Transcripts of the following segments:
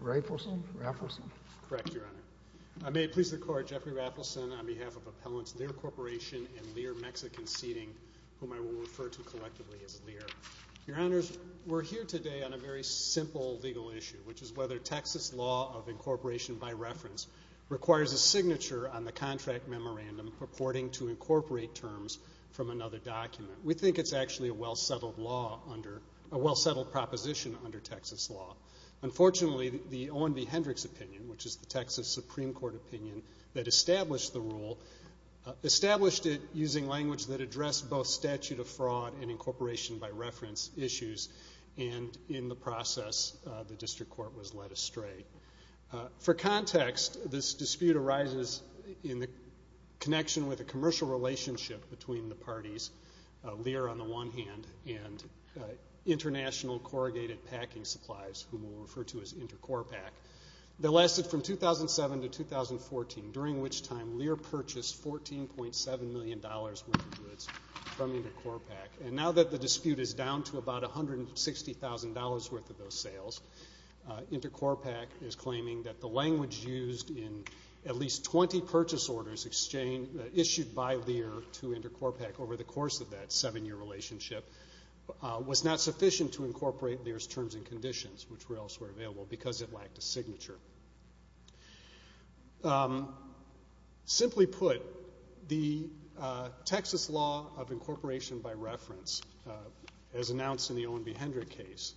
Raffleson. Correct, Your Honor. I may it please the Court, Jeffrey Raffleson, on behalf of Appellants Lear Corporation and Lear Mexican Seating, whom I will refer to collectively as Lear. Your Honors, we're here today on a very simple legal issue, which is whether a Texas law of incorporation by reference requires a signature on the contract memorandum purporting to incorporate terms from another document. We think it's actually a well-settled proposition under Texas law. Unfortunately, the Owen v. Hendricks opinion, which is the Texas Supreme Court opinion that established the rule, established it using language that addressed both statute of fraud and incorporation by reference issues, and in the process, the For context, this dispute arises in the connection with a commercial relationship between the parties, Lear on the one hand, and International Corrugated Packing Supplies, whom we'll refer to as Intercorpac, that lasted from 2007 to 2014, during which time Lear purchased $14.7 million worth of goods from Intercorpac. And now that the dispute is down to about $160,000 worth of those sales, Intercorpac is claiming that the language used in at least 20 purchase orders issued by Lear to Intercorpac over the course of that seven-year relationship was not sufficient to incorporate Lear's terms and conditions, which were elsewhere available because it lacked a signature. Simply put, the Texas law of incorporation by reference, as announced in the Owen v. Hendricks case,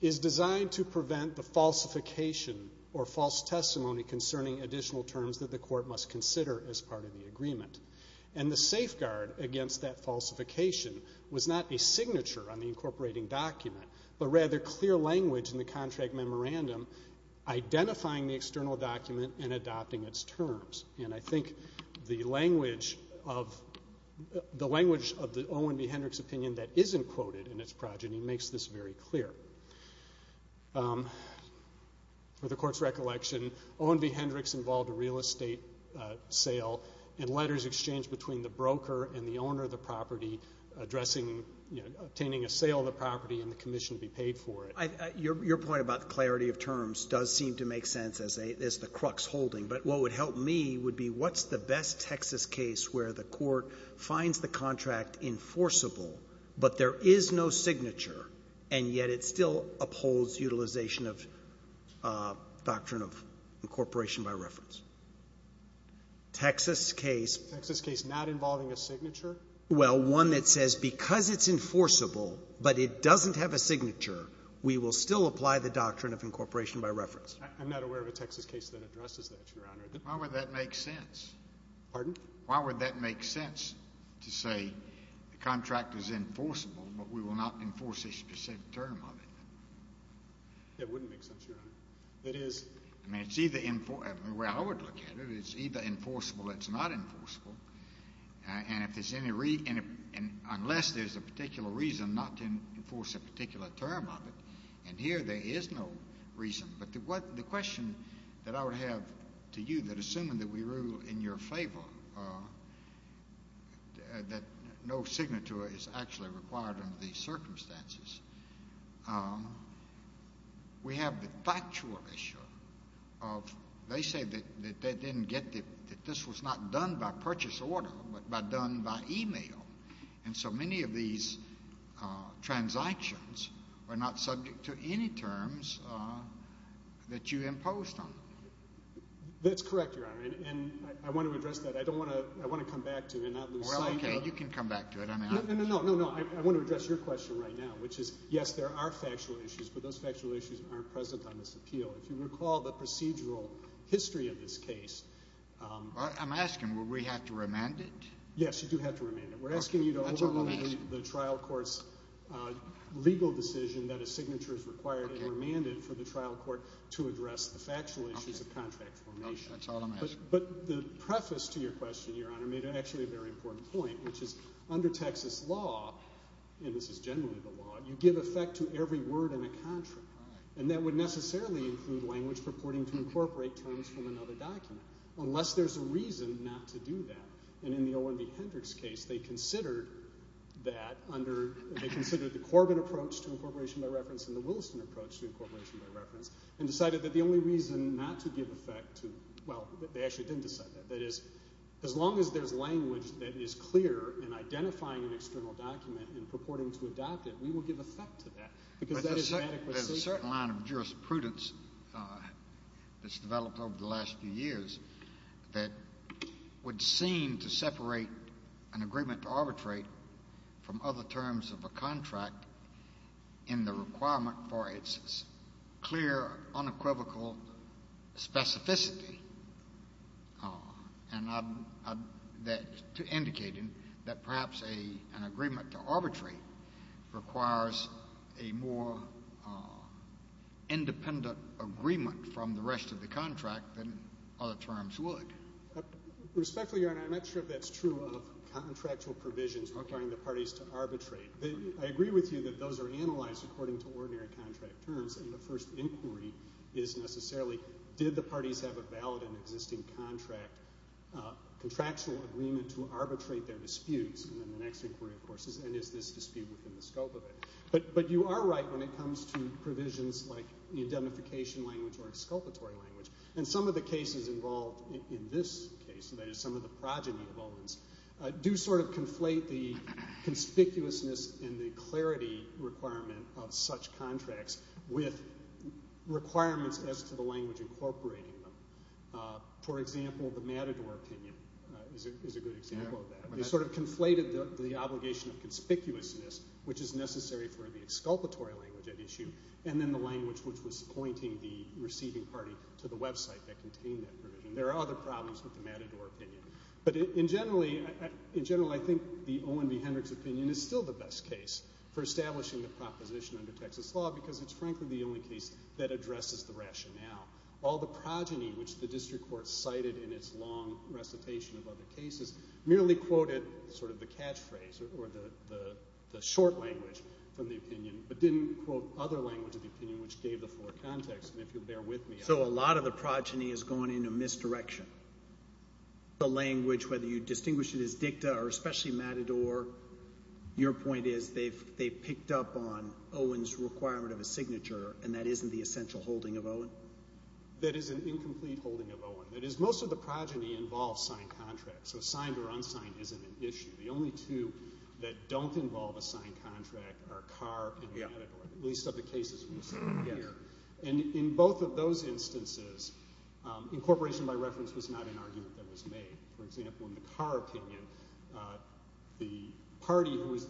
is designed to prevent the falsification or false testimony concerning additional terms that the court must consider as part of the agreement. And the safeguard against that falsification was not a signature on the incorporating document, but rather clear language in the contract memorandum identifying the external document and adopting its terms. And I think the language of the Owen v. Hendricks opinion that isn't quoted in its progeny makes this very clear. For the court's recollection, Owen v. Hendricks involved a real estate sale and letters exchanged between the broker and the owner of the property addressing obtaining a sale of the property and the commission to be paid for it. Your point about the clarity of terms does seem to make sense as the crux holding, but what would help me would be what's the best Texas case where the court finds the contract enforceable, but there is no signature, and yet it still upholds utilization of doctrine of incorporation by reference? Texas case... Texas case not involving a signature? Well, one that says because it's enforceable, but it doesn't have a signature, we will still apply the doctrine of incorporation by reference. I'm not aware of a Texas case that addresses that, Your Honor. Why would that make sense? Pardon? Why would that make sense to say the contract is enforceable, but we will not enforce a specific term of it? That wouldn't make sense, Your Honor. It is... I mean, it's either... I mean, the way I would look at it, it's either enforceable or it's not enforceable, and if there's any... unless there's a particular reason not to enforce a particular term of it, and here there is no reason. But the question that I would have to you, that assuming that we rule in your favor, that no signature is actually required under these circumstances, we have the factual issue of... they say that they didn't get the... that this was not done by purchase order, but done by email, and so many of these transactions were not subject to any terms that you imposed on them. That's correct, Your Honor, and I want to address that. I don't want to... I want to come back to it and not lose sight of... Well, okay, you can come back to it. I mean, I... No, no, no, no, no. I want to address your question right now, which is, yes, there are factual issues, but those factual issues aren't present on this appeal. If you recall the procedural history of this case... I'm asking, will we have to remand it? Yes, you do have to remand it. Okay, that's all I'm asking. We're asking you to overrule the trial court's legal decision that a signature is required and remanded for the trial court to address the factual issues of contract formation. Okay, that's all I'm asking. But the preface to your question, Your Honor, made actually a very important point, which is under Texas law, and this is generally the law, you give effect to every word in a contract, and that would necessarily include language purporting to incorporate terms from they considered that under...they considered the Corbin approach to incorporation by reference and the Williston approach to incorporation by reference, and decided that the only reason not to give effect to...well, they actually didn't decide that. That is, as long as there's language that is clear in identifying an external document and purporting to adopt it, we will give effect to that, because that is an adequacy... There's a certain line of jurisprudence that's developed over the last few years that would seem to separate an agreement to arbitrate from other terms of a contract in the requirement for its clear, unequivocal specificity, indicating that perhaps an agreement to arbitrate requires a more independent agreement from the rest of the contract than other terms would. Respectfully, Your Honor, I'm not sure if that's true of contractual provisions requiring the parties to arbitrate. I agree with you that those are analyzed according to ordinary contract terms, and the first inquiry is necessarily, did the parties have a valid and existing contractual agreement to arbitrate their disputes, and then the next inquiry, of course, is, and is this dispute within the scope of it? But you are right when it comes to provisions like the indemnification language or exculpatory language, and some of the cases involved in this case, that is some of the progeny evidence, do sort of conflate the conspicuousness and the clarity requirement of such contracts with requirements as to the language incorporating them. For example, the Matador opinion is a good example of that. It sort of conflated the obligation of conspicuousness, which is necessary for the exculpatory language at the time, which was pointing the receiving party to the website that contained that provision. There are other problems with the Matador opinion. But in general, I think the Owen v. Hendricks opinion is still the best case for establishing the proposition under Texas law, because it's frankly the only case that addresses the rationale. All the progeny, which the district court cited in its long recitation of other cases, merely quoted sort of the catchphrase or the short language from the opinion, but didn't quote other language of the opinion which gave the full context, and if you'll bear with me. So a lot of the progeny has gone in a misdirection. The language, whether you distinguish it as dicta or especially Matador, your point is they've picked up on Owen's requirement of a signature, and that isn't the essential holding of Owen? That is an incomplete holding of Owen. That is, most of the progeny involve signed contracts, so signed or unsigned isn't an issue. The only two that don't involve a signed contract are Carr opinion, at least of the cases we've seen here. And in both of those instances, incorporation by reference was not an argument that was made. For example, in the Carr opinion, the party who was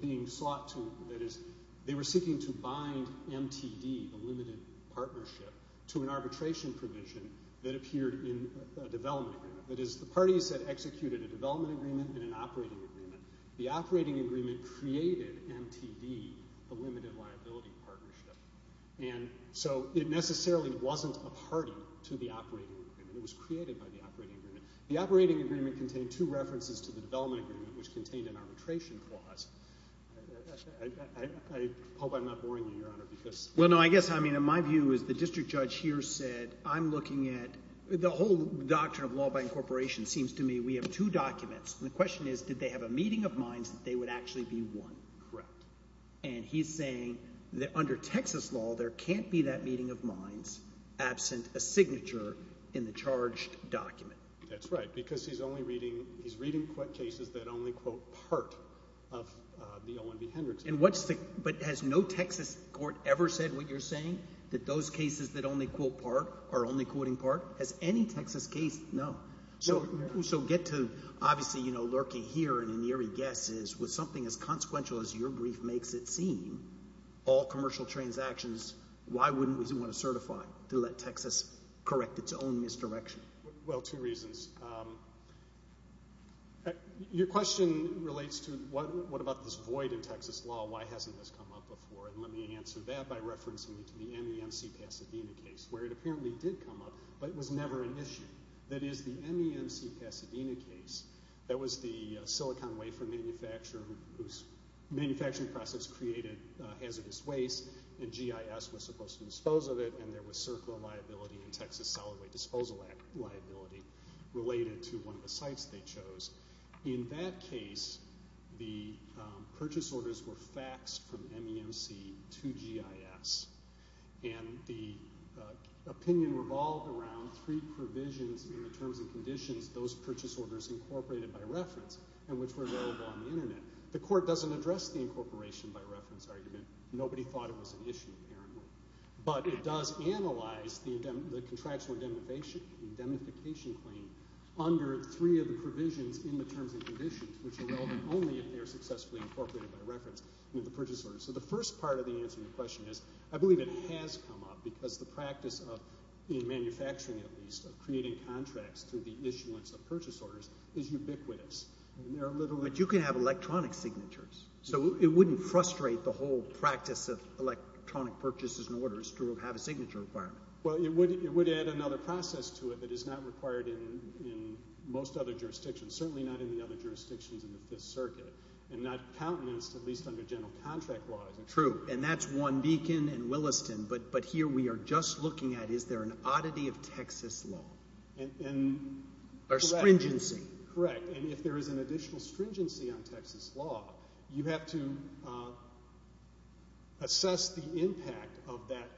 being sought to, that is, they were seeking to bind MTD, the limited partnership, to an arbitration provision that appeared in a development agreement. That is, the parties had executed a development agreement and an operating agreement. The limited liability partnership. And so it necessarily wasn't a party to the operating agreement. It was created by the operating agreement. The operating agreement contained two references to the development agreement, which contained an arbitration clause. I hope I'm not boring you, Your Honor, because— Well, no, I guess, I mean, in my view, as the district judge here said, I'm looking at—the whole doctrine of law by incorporation seems to me we have two documents, and the And he's saying that under Texas law, there can't be that meeting of minds absent a signature in the charged document. That's right, because he's only reading—he's reading cases that only quote part of the Owen v. Hendricks case. And what's the—but has no Texas court ever said what you're saying, that those cases that only quote part are only quoting part? Has any Texas case? No. So get to, Obviously, you know, lurking here in an eerie guess is, with something as consequential as your brief makes it seem, all commercial transactions, why wouldn't we want to certify to let Texas correct its own misdirection? Well, two reasons. Your question relates to what about this void in Texas law? Why hasn't this come up before? And let me answer that by referencing you to the MEMC-Pasadena case, where it apparently did come up, but it was never an issue. That is, the MEMC-Pasadena case, that was the silicon wafer manufacturer whose manufacturing process created hazardous waste, and GIS was supposed to dispose of it, and there was CERCLA liability and Texas Solid Waste Disposal Act liability related to one of the sites they chose. In that case, the purchase orders were faxed from MEMC to GIS, and the opinion revolved around three provisions in the terms and conditions those purchase orders incorporated by reference and which were available on the internet. The court doesn't address the incorporation by reference argument. Nobody thought it was an issue, apparently. But it does analyze the contractual indemnification claim under three of the provisions in the terms and conditions which are relevant only if they are successfully incorporated by reference in the purchase order. So the first part of the answer to your question is, I believe it has come up because the practice of manufacturing, at least, of creating contracts through the issuance of purchase orders is ubiquitous. But you can have electronic signatures, so it wouldn't frustrate the whole practice of electronic purchases and orders to have a signature requirement. Well, it would add another process to it that is not required in most other jurisdictions, certainly not in the other jurisdictions in the Fifth Circuit, and not countenanced, at least under general contract laws. True. And that's one beacon in Williston. But here we are just looking at, is there an oddity of Texas law? Or stringency. Correct. And if there is an additional stringency on Texas law, you have to assess the impact of that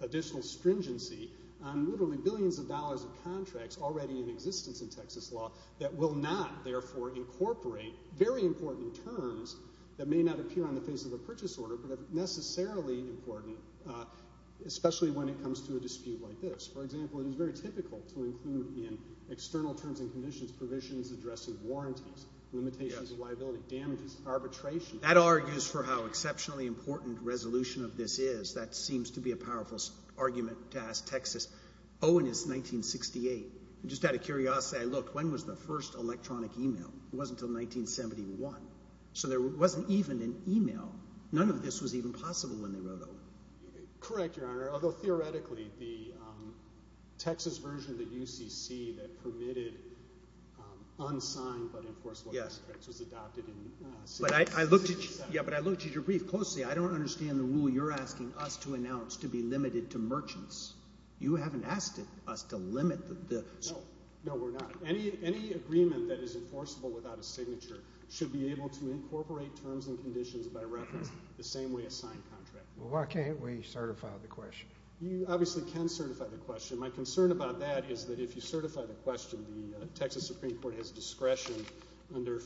additional stringency on literally billions of dollars of contracts already in Texas. And you cannot, therefore, incorporate very important terms that may not appear on the face of the purchase order, but are necessarily important, especially when it comes to a dispute like this. For example, it is very typical to include in external terms and conditions provisions addressing warranties, limitations of liability, damages, arbitration. That argues for how exceptionally important resolution of this is. That seems to be a powerful argument to ask Texas. Oh, and it's 1968. Just out of curiosity, I looked, when was the first electronic email? It wasn't until 1971. So there wasn't even an email. None of this was even possible when they wrote it. Correct, Your Honor. Although, theoretically, the Texas version of the UCC that permitted unsigned but enforceable contracts was adopted in 1966. But I looked at your brief closely. I don't understand the rule you're asking us to announce to be limited to merchants. You haven't asked us to limit the... No, we're not. Any agreement that is enforceable without a signature should be able to incorporate terms and conditions by reference the same way a signed contract. Well, why can't we certify the question? You obviously can certify the question. My concern about that is that if you certify the question, the Texas Supreme Court has discretion under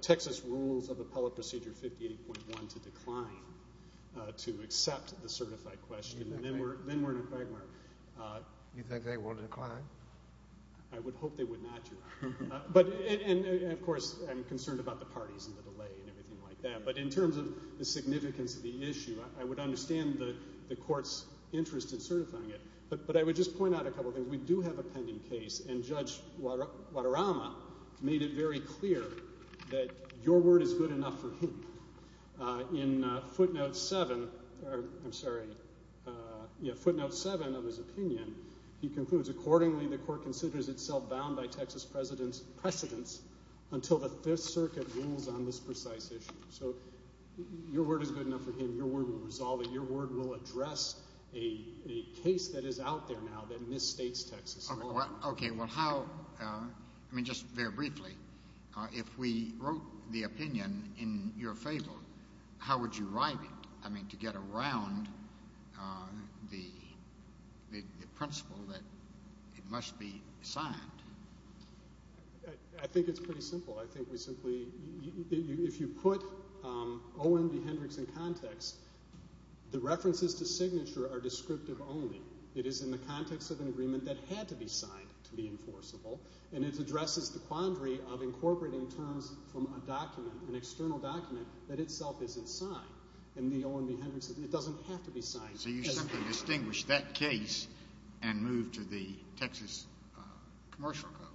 Texas Rules of Appellate Procedure 58.1 to decline to accept the certified question. Then we're in a quagmire. You think they will decline? I would hope they would not decline. And, of course, I'm concerned about the parties and the delay and everything like that. But in terms of the significance of the issue, I would understand the court's interest in certifying it. But I would just point out a couple things. We do have a pending case, and Judge Wadorama made it very clear that your word is good enough for him. In footnote 7 of his opinion, he concludes, accordingly, the court considers itself bound by Texas precedents until the Fifth Circuit rules on this precise issue. So your word is good enough for him. Your word will resolve it. Your word will address a case that is out there now that misstates Texas. Okay. Well, how – I mean, just very briefly, if we wrote the opinion in your favor, how would you write it? I mean, to get around the principle that it must be signed. I think it's pretty simple. I think we simply – if you put Owen v. Hendricks in context, the references to signature are descriptive only. It is in the context of an agreement that had to be signed to be enforceable, and it addresses the quandary of incorporating terms from a document, an external document, that itself isn't signed. And the Owen v. Hendricks says it doesn't have to be signed. So you simply distinguish that case and move to the Texas Commercial Code,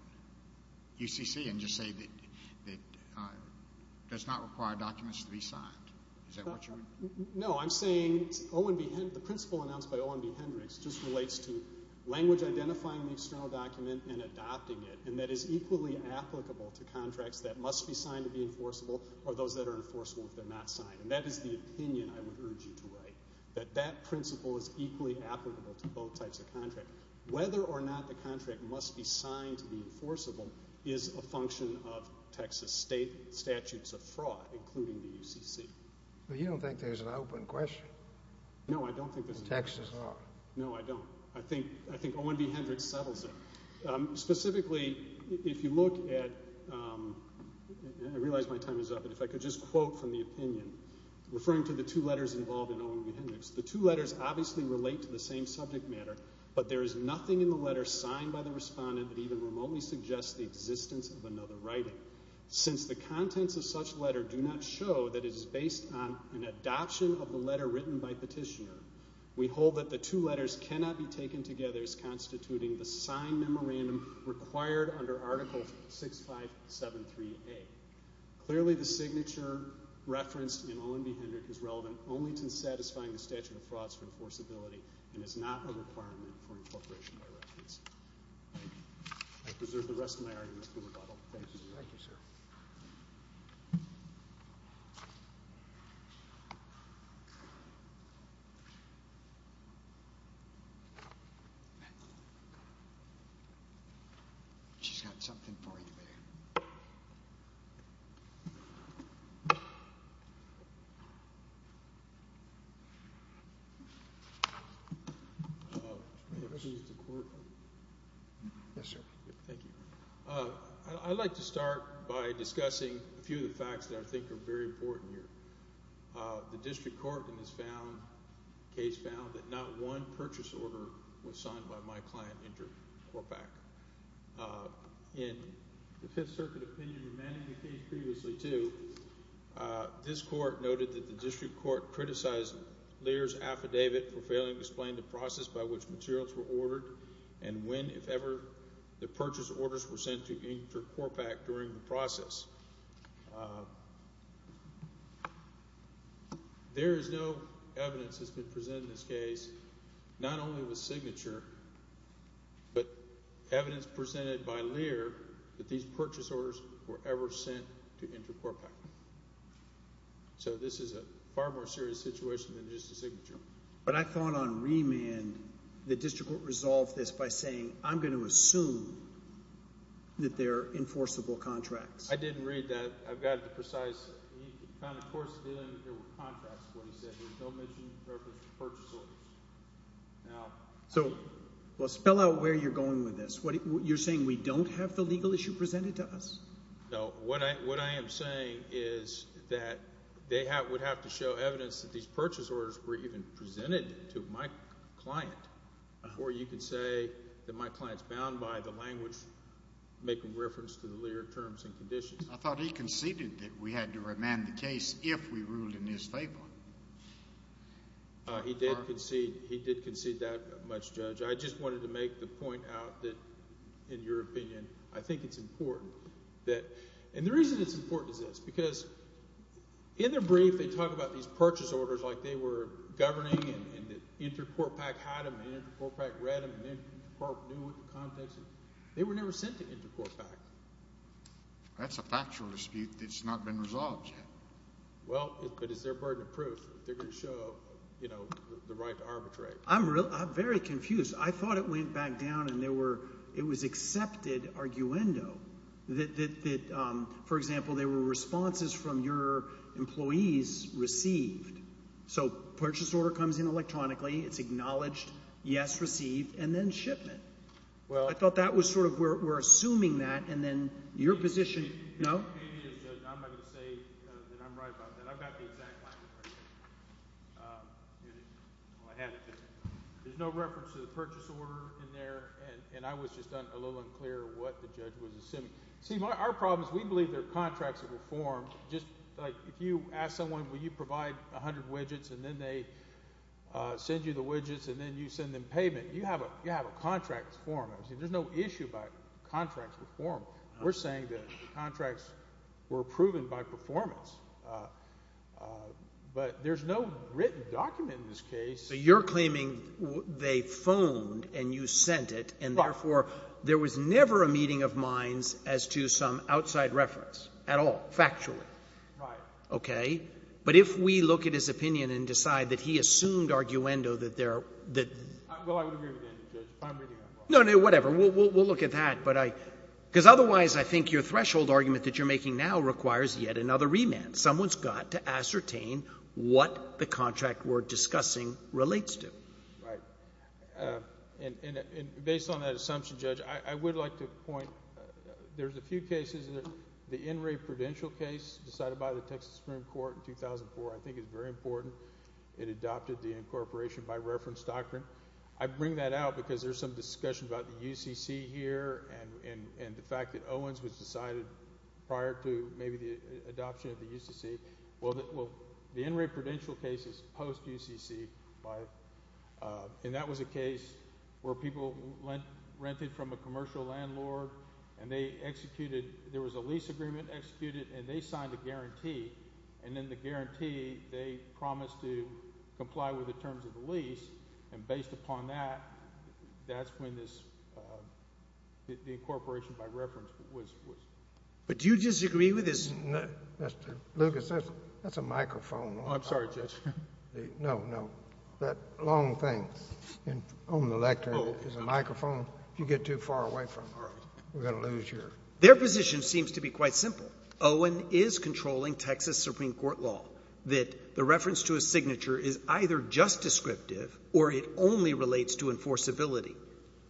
UCC, and just say that it does not require documents to be signed. Is that what you're – No, I'm saying Owen v. – the principle announced by Owen v. Hendricks just relates to language identifying the external document and adopting it, and that is equally applicable to contracts that must be signed to be enforceable or those that are enforceable if they're not signed. And that is the opinion I would urge you to write, that that principle is equally applicable to both types of contract. Whether or not the contract must be signed to be enforceable is a function of Texas statutes of fraud, including the UCC. Well, you don't think there's an open question? No, I don't think there's an open question. In Texas law? No, I don't. I think Owen v. Hendricks settles it. Specifically, if you look at – I realize my time is up, but if I could just quote from the opinion, referring to the two letters involved in Owen v. Hendricks, the two letters obviously relate to the same subject matter, but there is nothing in the letter signed by the respondent that even remotely suggests the existence of another writing. Since the contents of such letter do not show that it was based on an adoption of the letter written by petitioner, we hold that the two letters cannot be taken together as constituting the signed memorandum required under Article 6573A. Clearly, the signature referenced in Owen v. Hendricks is relevant only to satisfying the statute of frauds for enforceability and is not a requirement for incorporation by reference. I preserve the rest of my argument for rebuttal. Thank you. Thank you, sir. Thank you. She's got something for you there. Yes, sir. Thank you. I'd like to start by discussing a few of the facts that I think are very important here. The district court in this case found that not one purchase order was signed by my client, Andrew Korpak. In the Fifth Circuit opinion remanding the case previously, too, this court noted that the district court criticized Lear's affidavit for failing to explain the process by which materials were ordered and when, if ever, the purchase orders were sent to Andrew Korpak during the process. There is no evidence that's been presented in this case, not only with signature, but evidence presented by Lear that these purchase orders were ever sent to Andrew Korpak. So this is a far more serious situation than just the signature. But I thought on remand the district court resolved this by saying, I'm going to assume that they're enforceable contracts. I didn't read that. I've got it precisely. He found, of course, there were contracts when he said there were no mission purpose purchase orders. So, well, spell out where you're going with this. You're saying we don't have the legal issue presented to us? No. What I am saying is that they would have to show evidence that these purchase orders were even presented to my client. Or you could say that my client's bound by the language making reference to the Lear terms and conditions. I thought he conceded that we had to remand the case if we ruled in his favor. He did concede that much, Judge. I just wanted to make the point out that, in your opinion, I think it's important that— and the reason it's important is this, because in their brief they talk about these purchase orders like they were governing and Intercourt PAC had them and Intercourt PAC read them and Intercourt knew what the context was. They were never sent to Intercourt PAC. That's a factual dispute that's not been resolved yet. Well, but it's their burden of proof. They're going to show the right to arbitrate. I'm very confused. I thought it went back down and there were—it was accepted arguendo that, for example, there were responses from your employees received. So purchase order comes in electronically. It's acknowledged, yes, received, and then shipment. I thought that was sort of—we're assuming that, and then your position— No? I'm not going to say that I'm right about that. I've got the exact language right here. There's no reference to the purchase order in there, and I was just a little unclear what the judge was assuming. See, our problem is we believe they're contracts that were formed. Just like if you ask someone, will you provide 100 widgets, and then they send you the widgets, and then you send them payment, you have a contract form. There's no issue about contracts were formed. We're saying that the contracts were proven by performance. But there's no written document in this case. But you're claiming they phoned and you sent it, and therefore there was never a meeting of minds as to some outside reference at all, factually. Right. Okay? But if we look at his opinion and decide that he assumed arguendo that there are— Well, I would agree with that, Judge, if I'm reading that wrong. No, no, whatever. We'll look at that. Because otherwise, I think your threshold argument that you're making now requires yet another remand. Someone's got to ascertain what the contract we're discussing relates to. Right. And based on that assumption, Judge, I would like to point, there's a few cases. The In re Prudential case decided by the Texas Supreme Court in 2004 I think is very important. It adopted the incorporation by reference doctrine. I bring that out because there's some discussion about the UCC here and the fact that Owens was decided prior to maybe the adoption of the UCC. Well, the In re Prudential case is post-UCC. And that was a case where people rented from a commercial landlord, and they executed—there was a lease agreement executed, and they signed a guarantee. And in the guarantee, they promised to comply with the terms of the lease. And based upon that, that's when this—the incorporation by reference was— But do you disagree with his— Lucas, that's a microphone. I'm sorry, Judge. No, no. That long thing on the lectern is a microphone. If you get too far away from it, we're going to lose your— Their position seems to be quite simple. Owen is controlling Texas Supreme Court law, that the reference to a signature is either just descriptive or it only relates to enforceability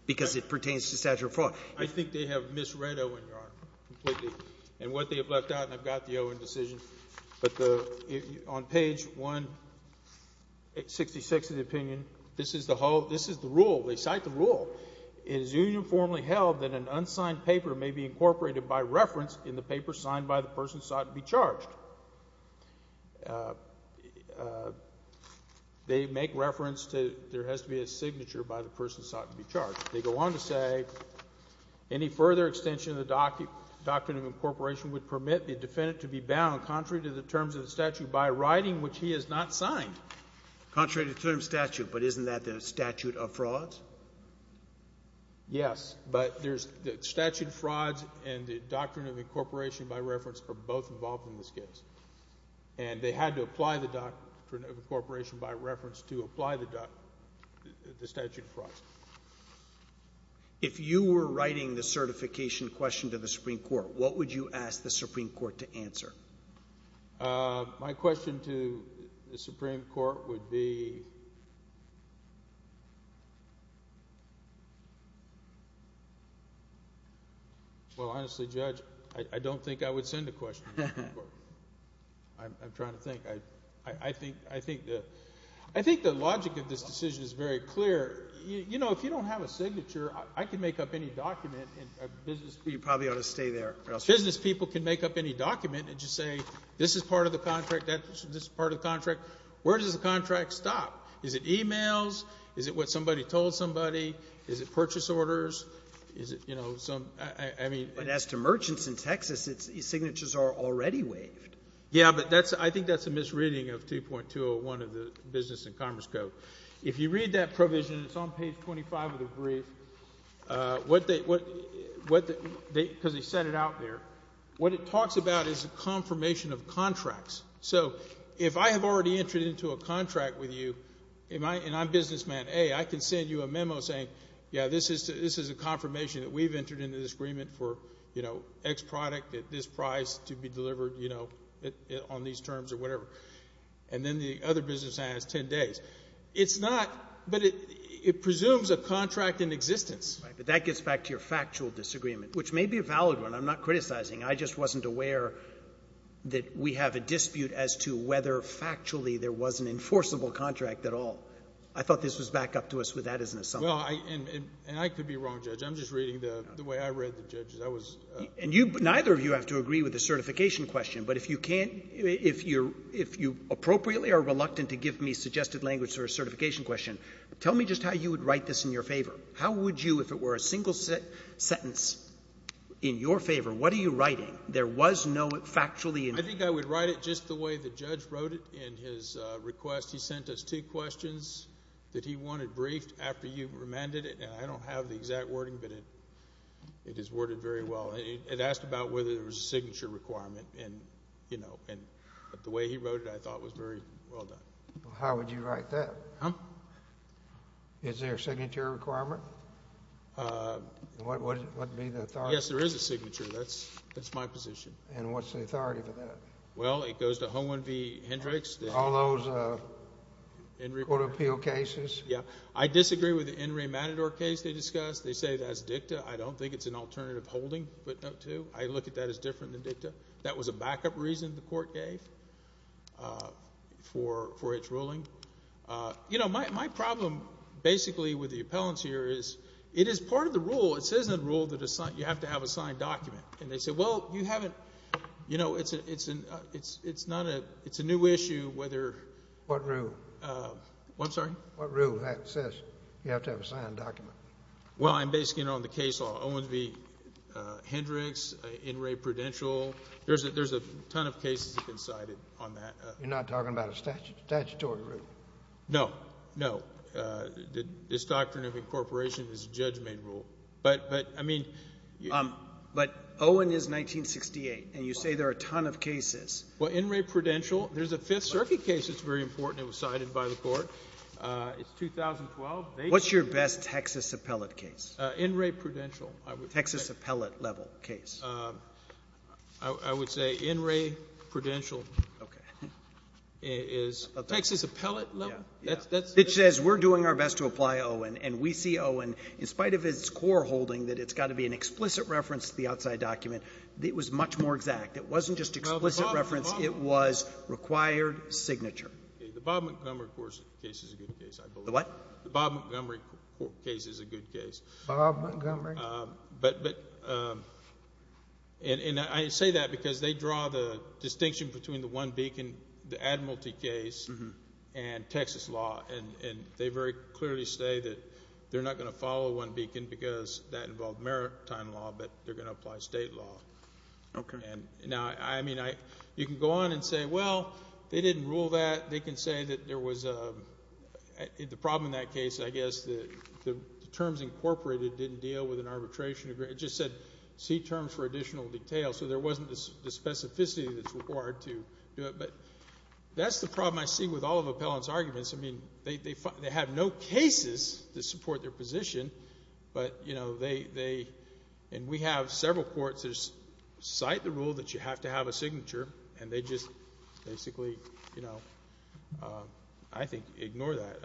because it pertains to statute of fraud. I think they have misread Owen, Your Honor, completely, and what they have left out. And I've got the Owen decision. But the—on page 166 of the opinion, this is the whole—this is the rule. They cite the rule. It is uniformly held that an unsigned paper may be incorporated by reference in the paper signed by the person sought to be charged. They make reference to there has to be a signature by the person sought to be charged. They go on to say any further extension of the doctrine of incorporation would permit the defendant to be bound contrary to the terms of the statute by writing which he has not signed. Contrary to the terms of the statute, but isn't that the statute of fraud? Yes, but there's—the statute of frauds and the doctrine of incorporation by reference are both involved in this case. And they had to apply the doctrine of incorporation by reference to apply the statute of frauds. If you were writing the certification question to the Supreme Court, what would you ask the Supreme Court to answer? My question to the Supreme Court would be—well, honestly, Judge, I don't think I would send a question to the Supreme Court. I'm trying to think. I think the logic of this decision is very clear. If you don't have a signature, I can make up any document and a business— You probably ought to stay there. Business people can make up any document and just say this is part of the contract, this is part of the contract. Where does the contract stop? Is it e-mails? Is it what somebody told somebody? Is it purchase orders? Is it, you know, some—I mean— But as to merchants in Texas, its signatures are already waived. Yeah, but that's —I think that's a misreading of 2.201 of the Business and Commerce Code. If you read that provision, it's on page 25 of the brief, because they set it out there. What it talks about is a confirmation of contracts. So if I have already entered into a contract with you and I'm businessman A, I can send you a memo saying, yeah, this is a confirmation that we've entered into this agreement for, you know, X product at this price to be delivered, you know, on these terms or whatever. And then the other businessman has 10 days. It's not, but it presumes a contract in existence. Right. But that gets back to your factual disagreement, which may be a valid one. I'm not criticizing. I just wasn't aware that we have a dispute as to whether factually there was an enforceable contract at all. I thought this was back up to us with that as an assumption. Well, and I could be wrong, Judge. I'm just reading the way I read the judges. I was— And neither of you have to agree with the certification question, but if you can't—if you appropriately are reluctant to give me suggested language for a certification question, tell me just how you would write this in your favor. How would you, if it were a single sentence in your favor, what are you writing? There was no factually— I think I would write it just the way the judge wrote it in his request. He sent us two questions that he wanted briefed after you remanded it, and I don't have the exact wording, but it is worded very well. It asked about whether there was a signature requirement, and the way he wrote it I thought was very well done. How would you write that? Huh? Is there a signature requirement? What would be the authority? Yes, there is a signature. That's my position. And what's the authority for that? Well, it goes to Hohenvee Hendrix. All those court appeal cases? Yes. I disagree with the In re Matador case they discussed. They say that's dicta. I don't think it's an alternative holding, footnote 2. I look at that as different than dicta. That was a backup reason the court gave for its ruling. You know, my problem basically with the appellants here is it is part of the rule. It says in the rule that you have to have a signed document. And they say, well, you haven't. You know, it's a new issue whether. What rule? I'm sorry? What rule that says you have to have a signed document? Well, I'm basing it on the case law, Hohenvee Hendrix, In re Prudential. There's a ton of cases that have been cited on that. You're not talking about a statutory rule? No, no. This doctrine of incorporation is a judge-made rule. But, I mean — But Hohen is 1968. And you say there are a ton of cases. Well, In re Prudential, there's a Fifth Circuit case that's very important. It was cited by the court. It's 2012. What's your best Texas appellate case? In re Prudential, I would say. Texas appellate-level case. I would say In re Prudential is Texas appellate-level. It says we're doing our best to apply Hohen. And we see, Owen, in spite of its core holding that it's got to be an explicit reference to the outside document, it was much more exact. It wasn't just explicit reference. It was required signature. The Bob Montgomery case is a good case, I believe. The what? The Bob Montgomery case is a good case. Bob Montgomery? But — and I say that because they draw the distinction between the one beacon, the Admiralty case, and Texas law. And they very clearly say that they're not going to follow one beacon because that involved maritime law, but they're going to apply state law. Okay. Now, I mean, you can go on and say, well, they didn't rule that. They can say that there was a — the problem in that case, I guess, the terms incorporated didn't deal with an arbitration agreement. It just said see terms for additional detail. So there wasn't the specificity that's required to do it. But that's the problem I see with all of appellant's arguments. I mean, they have no cases to support their position, but, you know, they — and we have several courts that cite the rule that you have to have a signature, and they just basically, you know, I think ignore that.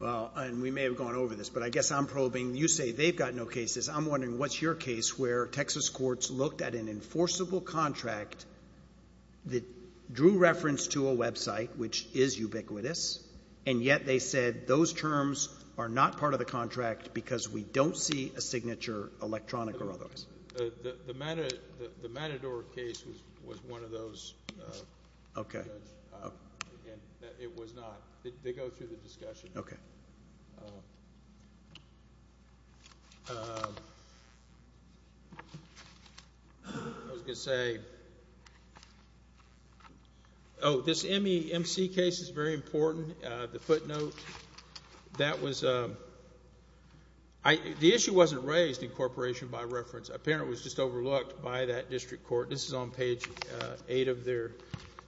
Well, and we may have gone over this, but I guess I'm probing. You say they've got no cases. I'm wondering what's your case where Texas courts looked at an enforceable contract that drew reference to a website, which is ubiquitous, and yet they said those terms are not part of the contract because we don't see a signature, electronic or otherwise. The Matador case was one of those. Okay. It was not. They go through the discussion. Okay. I was going to say — oh, this M.C. case is very important, the footnote. That was — the issue wasn't raised in corporation by reference. Apparently it was just overlooked by that district court. This is on page 8 of their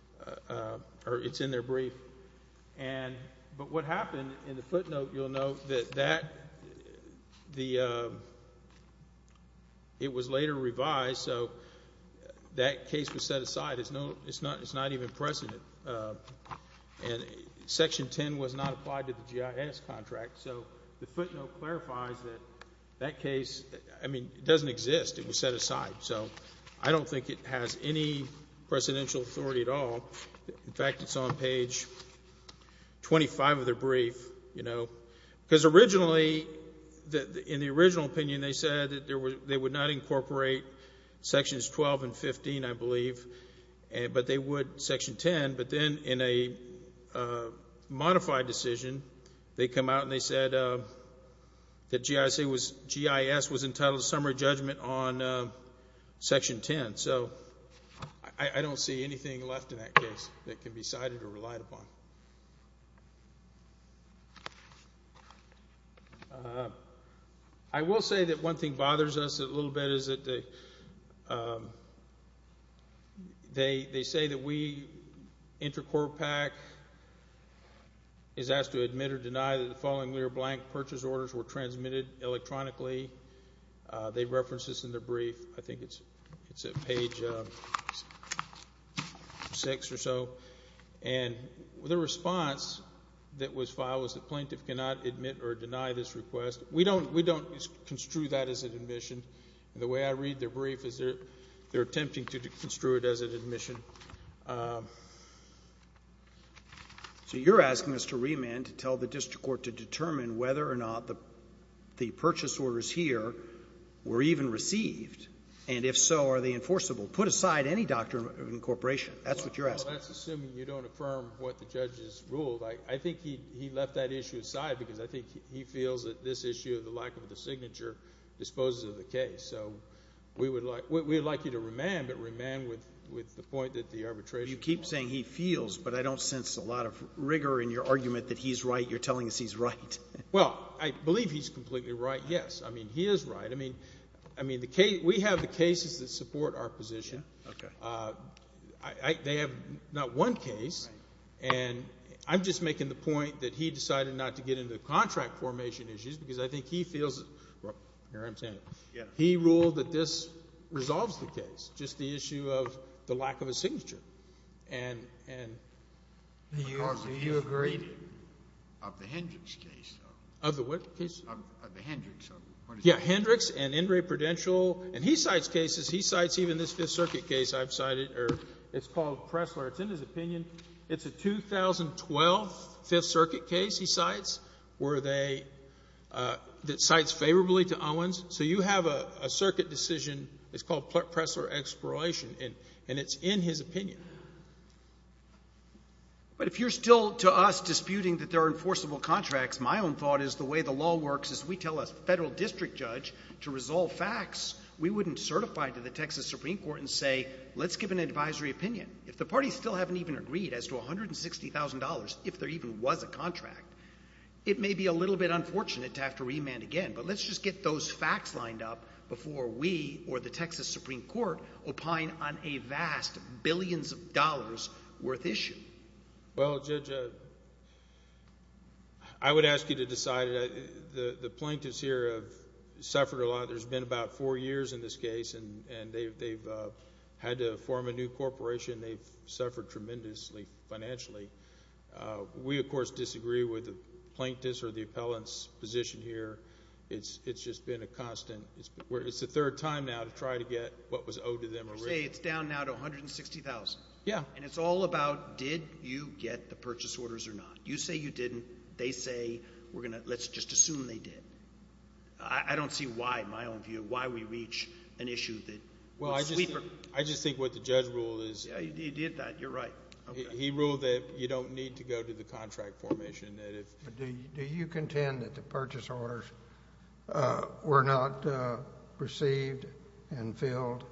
— or it's in their brief. But what happened in the footnote, you'll note, that it was later revised, so that case was set aside. It's not even present. And Section 10 was not applied to the GIS contract, so the footnote clarifies that that case — I mean, it doesn't exist. It was set aside. So I don't think it has any presidential authority at all. In fact, it's on page 25 of their brief, you know. Because originally, in the original opinion, they said that they would not incorporate Sections 12 and 15, I believe, but they would Section 10. But then in a modified decision, they come out and they said that GIS was entitled to summary judgment on Section 10. And so I don't see anything left in that case that can be cited or relied upon. I will say that one thing bothers us a little bit is that they say that we, Intercorp PAC, is asked to admit or deny that the following lear blank purchase orders were transmitted electronically. They reference this in their brief. I think it's at page 6 or so. And the response that was filed was the plaintiff cannot admit or deny this request. We don't construe that as an admission. The way I read their brief is they're attempting to construe it as an admission. So you're asking us to remand to tell the district court to determine whether or not the purchase orders here were even received, and if so, are they enforceable? Put aside any doctrine of incorporation. That's what you're asking. Well, that's assuming you don't affirm what the judge has ruled. I think he left that issue aside because I think he feels that this issue of the lack of the signature disposes of the case. So we would like you to remand, but remand with the point that the arbitration rules. You keep saying he feels, but I don't sense a lot of rigor in your argument that he's right. You're telling us he's right. Well, I believe he's completely right, yes. I mean, he is right. I mean, we have the cases that support our position. They have not one case, and I'm just making the point that he decided not to get into the contract formation issues because I think he feels he ruled that this resolves the case, just the issue of the lack of a signature. Do you agree of the Hendricks case? Of the what case? Of the Hendricks. Yeah, Hendricks and Ingray Prudential. And he cites cases. He cites even this Fifth Circuit case I've cited, or it's called Pressler. It's in his opinion. It's a 2012 Fifth Circuit case he cites where they — that cites favorably to Owens. So you have a circuit decision. It's called Pressler exploration, and it's in his opinion. But if you're still to us disputing that there are enforceable contracts, my own thought is the way the law works is we tell a federal district judge to resolve facts. We wouldn't certify to the Texas Supreme Court and say, let's give an advisory opinion. If the parties still haven't even agreed as to $160,000, if there even was a contract, it may be a little bit unfortunate to have to remand again, but let's just get those facts lined up before we or the Texas Supreme Court opine on a vast billions of dollars worth issue. Well, Judge, I would ask you to decide. The plaintiffs here have suffered a lot. There's been about four years in this case, and they've had to form a new corporation. They've suffered tremendously financially. We, of course, disagree with the plaintiffs or the appellants' position here. It's just been a constant. It's the third time now to try to get what was owed to them. You're saying it's down now to $160,000. Yeah. And it's all about did you get the purchase orders or not. You say you didn't. They say we're going to—let's just assume they did. I don't see why, in my own view, why we reach an issue that— Well, I just think what the judge ruled is— Yeah, you did that. You're right. He ruled that you don't need to go to the contract formation. Do you contend that the purchase orders were not received and filled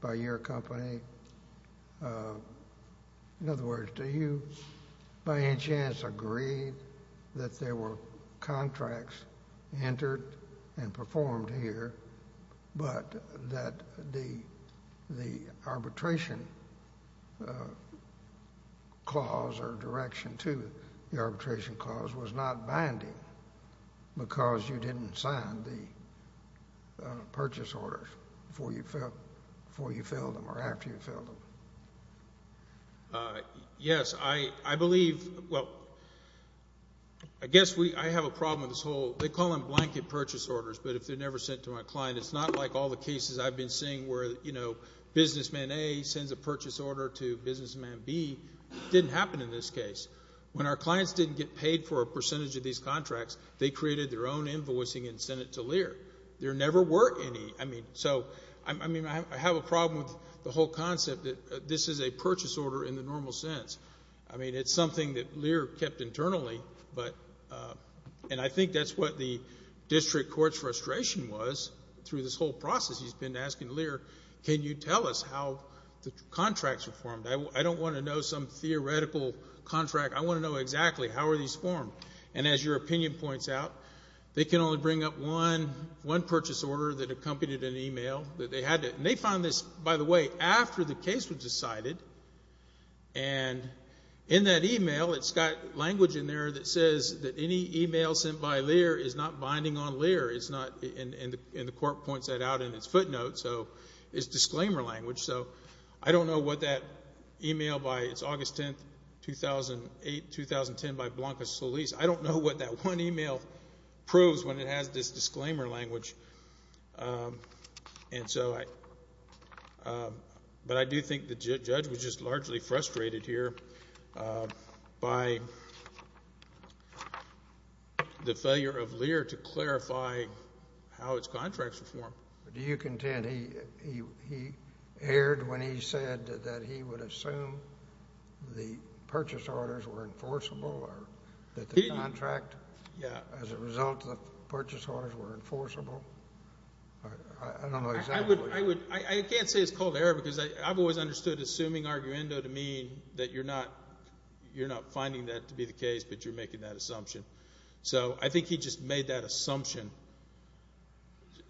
by your company? In other words, do you by any chance agree that there were contracts entered and performed here, but that the arbitration clause or direction to the arbitration clause was not binding because you didn't sign the purchase orders before you filled them or after you filled them? Yes. I believe—well, I guess I have a problem with this whole— they call them blanket purchase orders, but if they're never sent to my client, it's not like all the cases I've been seeing where, you know, businessman A sends a purchase order to businessman B. It didn't happen in this case. When our clients didn't get paid for a percentage of these contracts, they created their own invoicing and sent it to Lear. There never were any. I mean, I have a problem with the whole concept that this is a purchase order in the normal sense. I mean, it's something that Lear kept internally, and I think that's what the district court's frustration was through this whole process. He's been asking Lear, can you tell us how the contracts were formed? I don't want to know some theoretical contract. I want to know exactly how were these formed. And as your opinion points out, they can only bring up one purchase order that accompanied an e-mail. They had to—and they found this, by the way, after the case was decided. And in that e-mail, it's got language in there that says that any e-mail sent by Lear is not binding on Lear. It's not—and the court points that out in its footnote, so it's disclaimer language. So I don't know what that e-mail by—it's August 10, 2008, 2010 by Blanca Solis. I don't know what that one e-mail proves when it has this disclaimer language. And so I—but I do think the judge was just largely frustrated here by the failure of Lear to clarify how its contracts were formed. Do you contend? He erred when he said that he would assume the purchase orders were enforceable or that the contract as a result of the purchase orders were enforceable. I don't know exactly. I would—I can't say it's called error because I've always understood assuming arguendo to mean that you're not finding that to be the case, but you're making that assumption. So I think he just made that assumption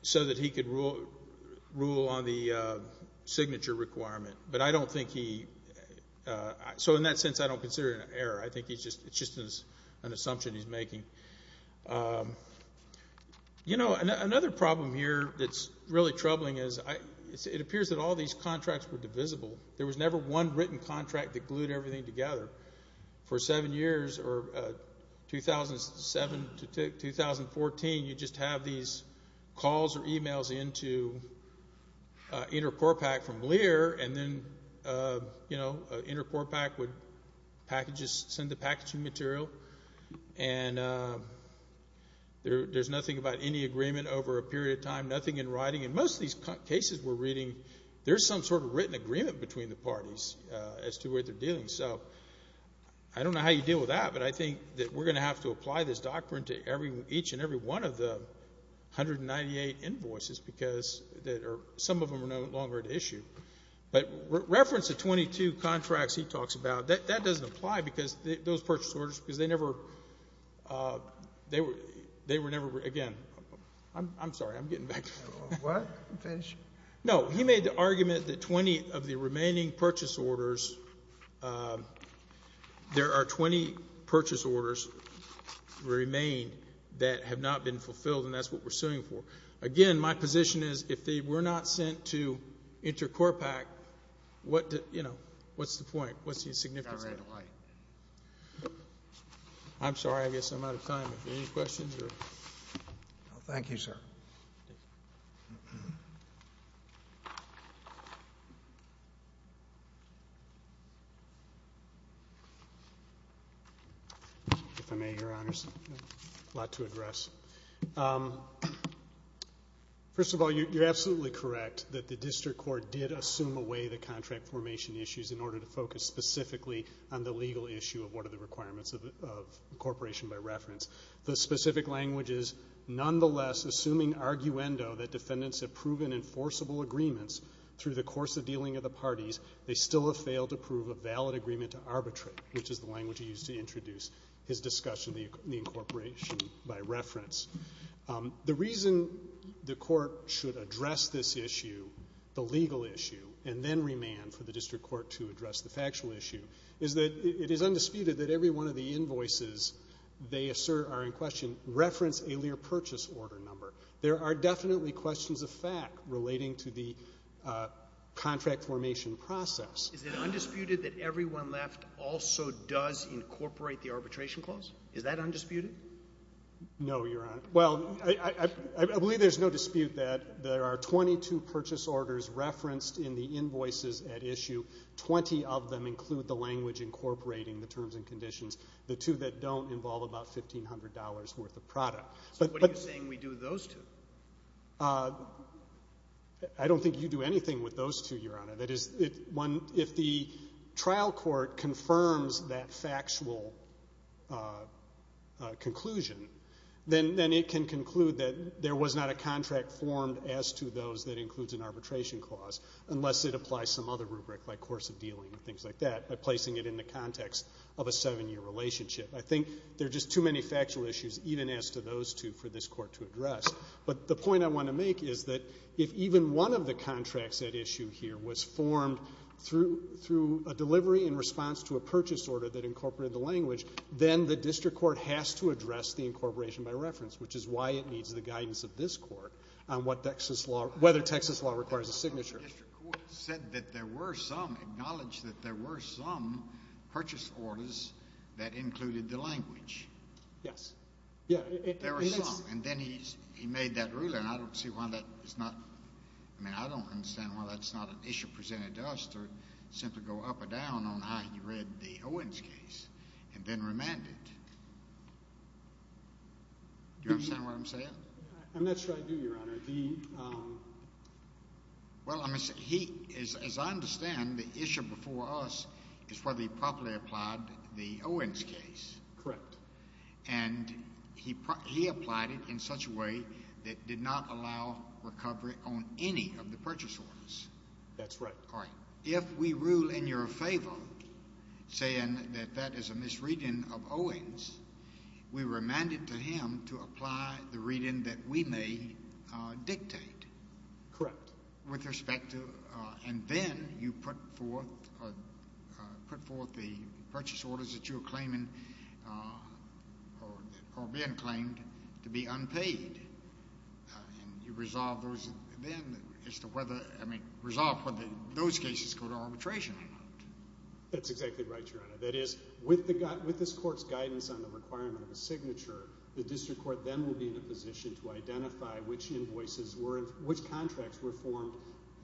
so that he could rule on the signature requirement. But I don't think he—so in that sense, I don't consider it an error. I think it's just an assumption he's making. You know, another problem here that's really troubling is it appears that all these contracts were divisible. There was never one written contract that glued everything together. For seven years, or 2007 to 2014, you just have these calls or e-mails into InterCorpac from Lear, and then, you know, InterCorpac would packages—send the packaging material, and there's nothing about any agreement over a period of time, nothing in writing. In most of these cases we're reading, there's some sort of written agreement between the parties as to what they're doing. So I don't know how you deal with that, but I think that we're going to have to apply this doctrine to each and every one of the 198 invoices because some of them are no longer at issue. But reference to 22 contracts he talks about, that doesn't apply because those purchase orders, because they never—they were never—again, I'm sorry. I'm getting back. What? Finish. No, he made the argument that 20 of the remaining purchase orders, there are 20 purchase orders that remain that have not been fulfilled, and that's what we're suing for. Again, my position is if they were not sent to InterCorpac, what's the point? What's the significance of it? I'm sorry. I guess I'm out of time. Any questions? Thank you, sir. Thank you, sir. If I may, Your Honors, a lot to address. First of all, you're absolutely correct that the district court did assume away the contract formation issues in order to focus specifically on the legal issue of what are the requirements of incorporation by reference. The specific language is, nonetheless, assuming arguendo that defendants have proven enforceable agreements through the course of dealing of the parties, they still have failed to prove a valid agreement to arbitrate, which is the language he used to introduce his discussion of the incorporation by reference. The reason the court should address this issue, the legal issue, and then remand for the district court to address the factual issue is that it is undisputed that every one of the invoices they assert are in question reference a Lear purchase order number. There are definitely questions of fact relating to the contract formation process. Is it undisputed that everyone left also does incorporate the arbitration clause? Is that undisputed? No, Your Honor. Well, I believe there's no dispute that there are 22 purchase orders referenced in the invoices at issue. Twenty of them include the language incorporating the terms and conditions. The two that don't involve about $1,500 worth of product. So what are you saying we do with those two? I don't think you do anything with those two, Your Honor. That is, if the trial court confirms that factual conclusion, then it can conclude that there was not a contract formed as to those that includes an arbitration clause unless it applies some other rubric like course of dealing and things like that by placing it in the context of a seven-year relationship. I think there are just too many factual issues even as to those two for this court to address. But the point I want to make is that if even one of the contracts at issue here was formed through a delivery in response to a purchase order that incorporated the language, then the district court has to address the incorporation by reference, which is why it needs the guidance of this court on whether Texas law requires a signature. The district court said that there were some, acknowledged that there were some purchase orders that included the language. Yes. There were some, and then he made that ruling. I don't see why that is not, I mean, I don't understand why that's not an issue presented to us to simply go up or down on how he read the Owens case and then remanded. Do you understand what I'm saying? And that's what I do, Your Honor. Well, as I understand, the issue before us is whether he properly applied the Owens case. Correct. And he applied it in such a way that did not allow recovery on any of the purchase orders. That's right. All right. If we rule in your favor, saying that that is a misreading of Owens, we remanded to him to apply the reading that we may dictate. Correct. With respect to, and then you put forth the purchase orders that you were claiming or being claimed to be unpaid. And you resolve those then as to whether, I mean, resolve whether those cases go to arbitration or not. That's exactly right, Your Honor. That is, with this court's guidance on the requirement of a signature, the district court then will be in a position to identify which invoices were, which contracts were formed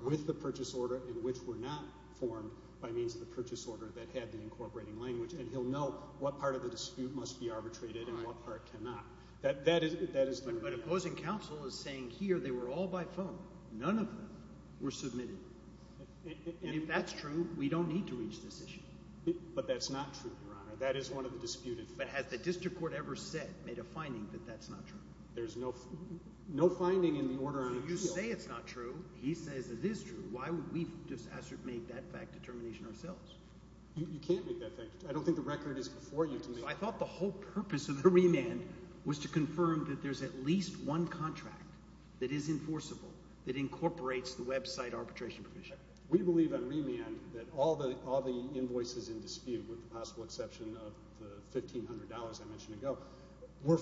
with the purchase order and which were not formed by means of the purchase order that had the incorporating language. And he'll know what part of the dispute must be arbitrated and what part cannot. But opposing counsel is saying here they were all by phone. None of them were submitted. And if that's true, we don't need to reach this issue. But that's not true, Your Honor. That is one of the disputed facts. But has the district court ever said, made a finding that that's not true? There's no finding in the order on appeal. So you say it's not true. He says it is true. Why would we make that fact determination ourselves? I don't think the record is before you to make that fact determination. I thought the whole purpose of the remand was to confirm that there's at least one contract that is enforceable that incorporates the website arbitration provision. We believe on remand that all the invoices in dispute, with the possible exception of the $1,500 I mentioned ago, were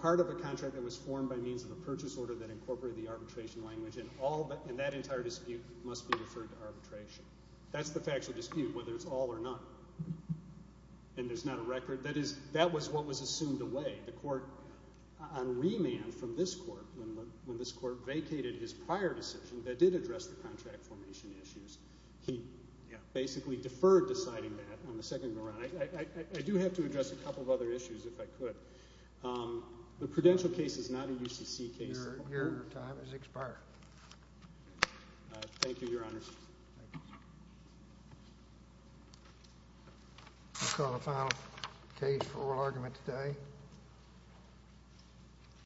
part of a contract that was formed by means of a purchase order that incorporated the arbitration language, and that entire dispute must be referred to arbitration. That's the facts of dispute, whether it's all or none. And there's not a record? That was what was assumed away. The court on remand from this court, when this court vacated his prior decision that did address the contract formation issues, he basically deferred deciding that on the second round. I do have to address a couple of other issues if I could. The Prudential case is not a UCC case. Your time has expired. Thank you, Your Honor. I'll call the final case for oral argument today.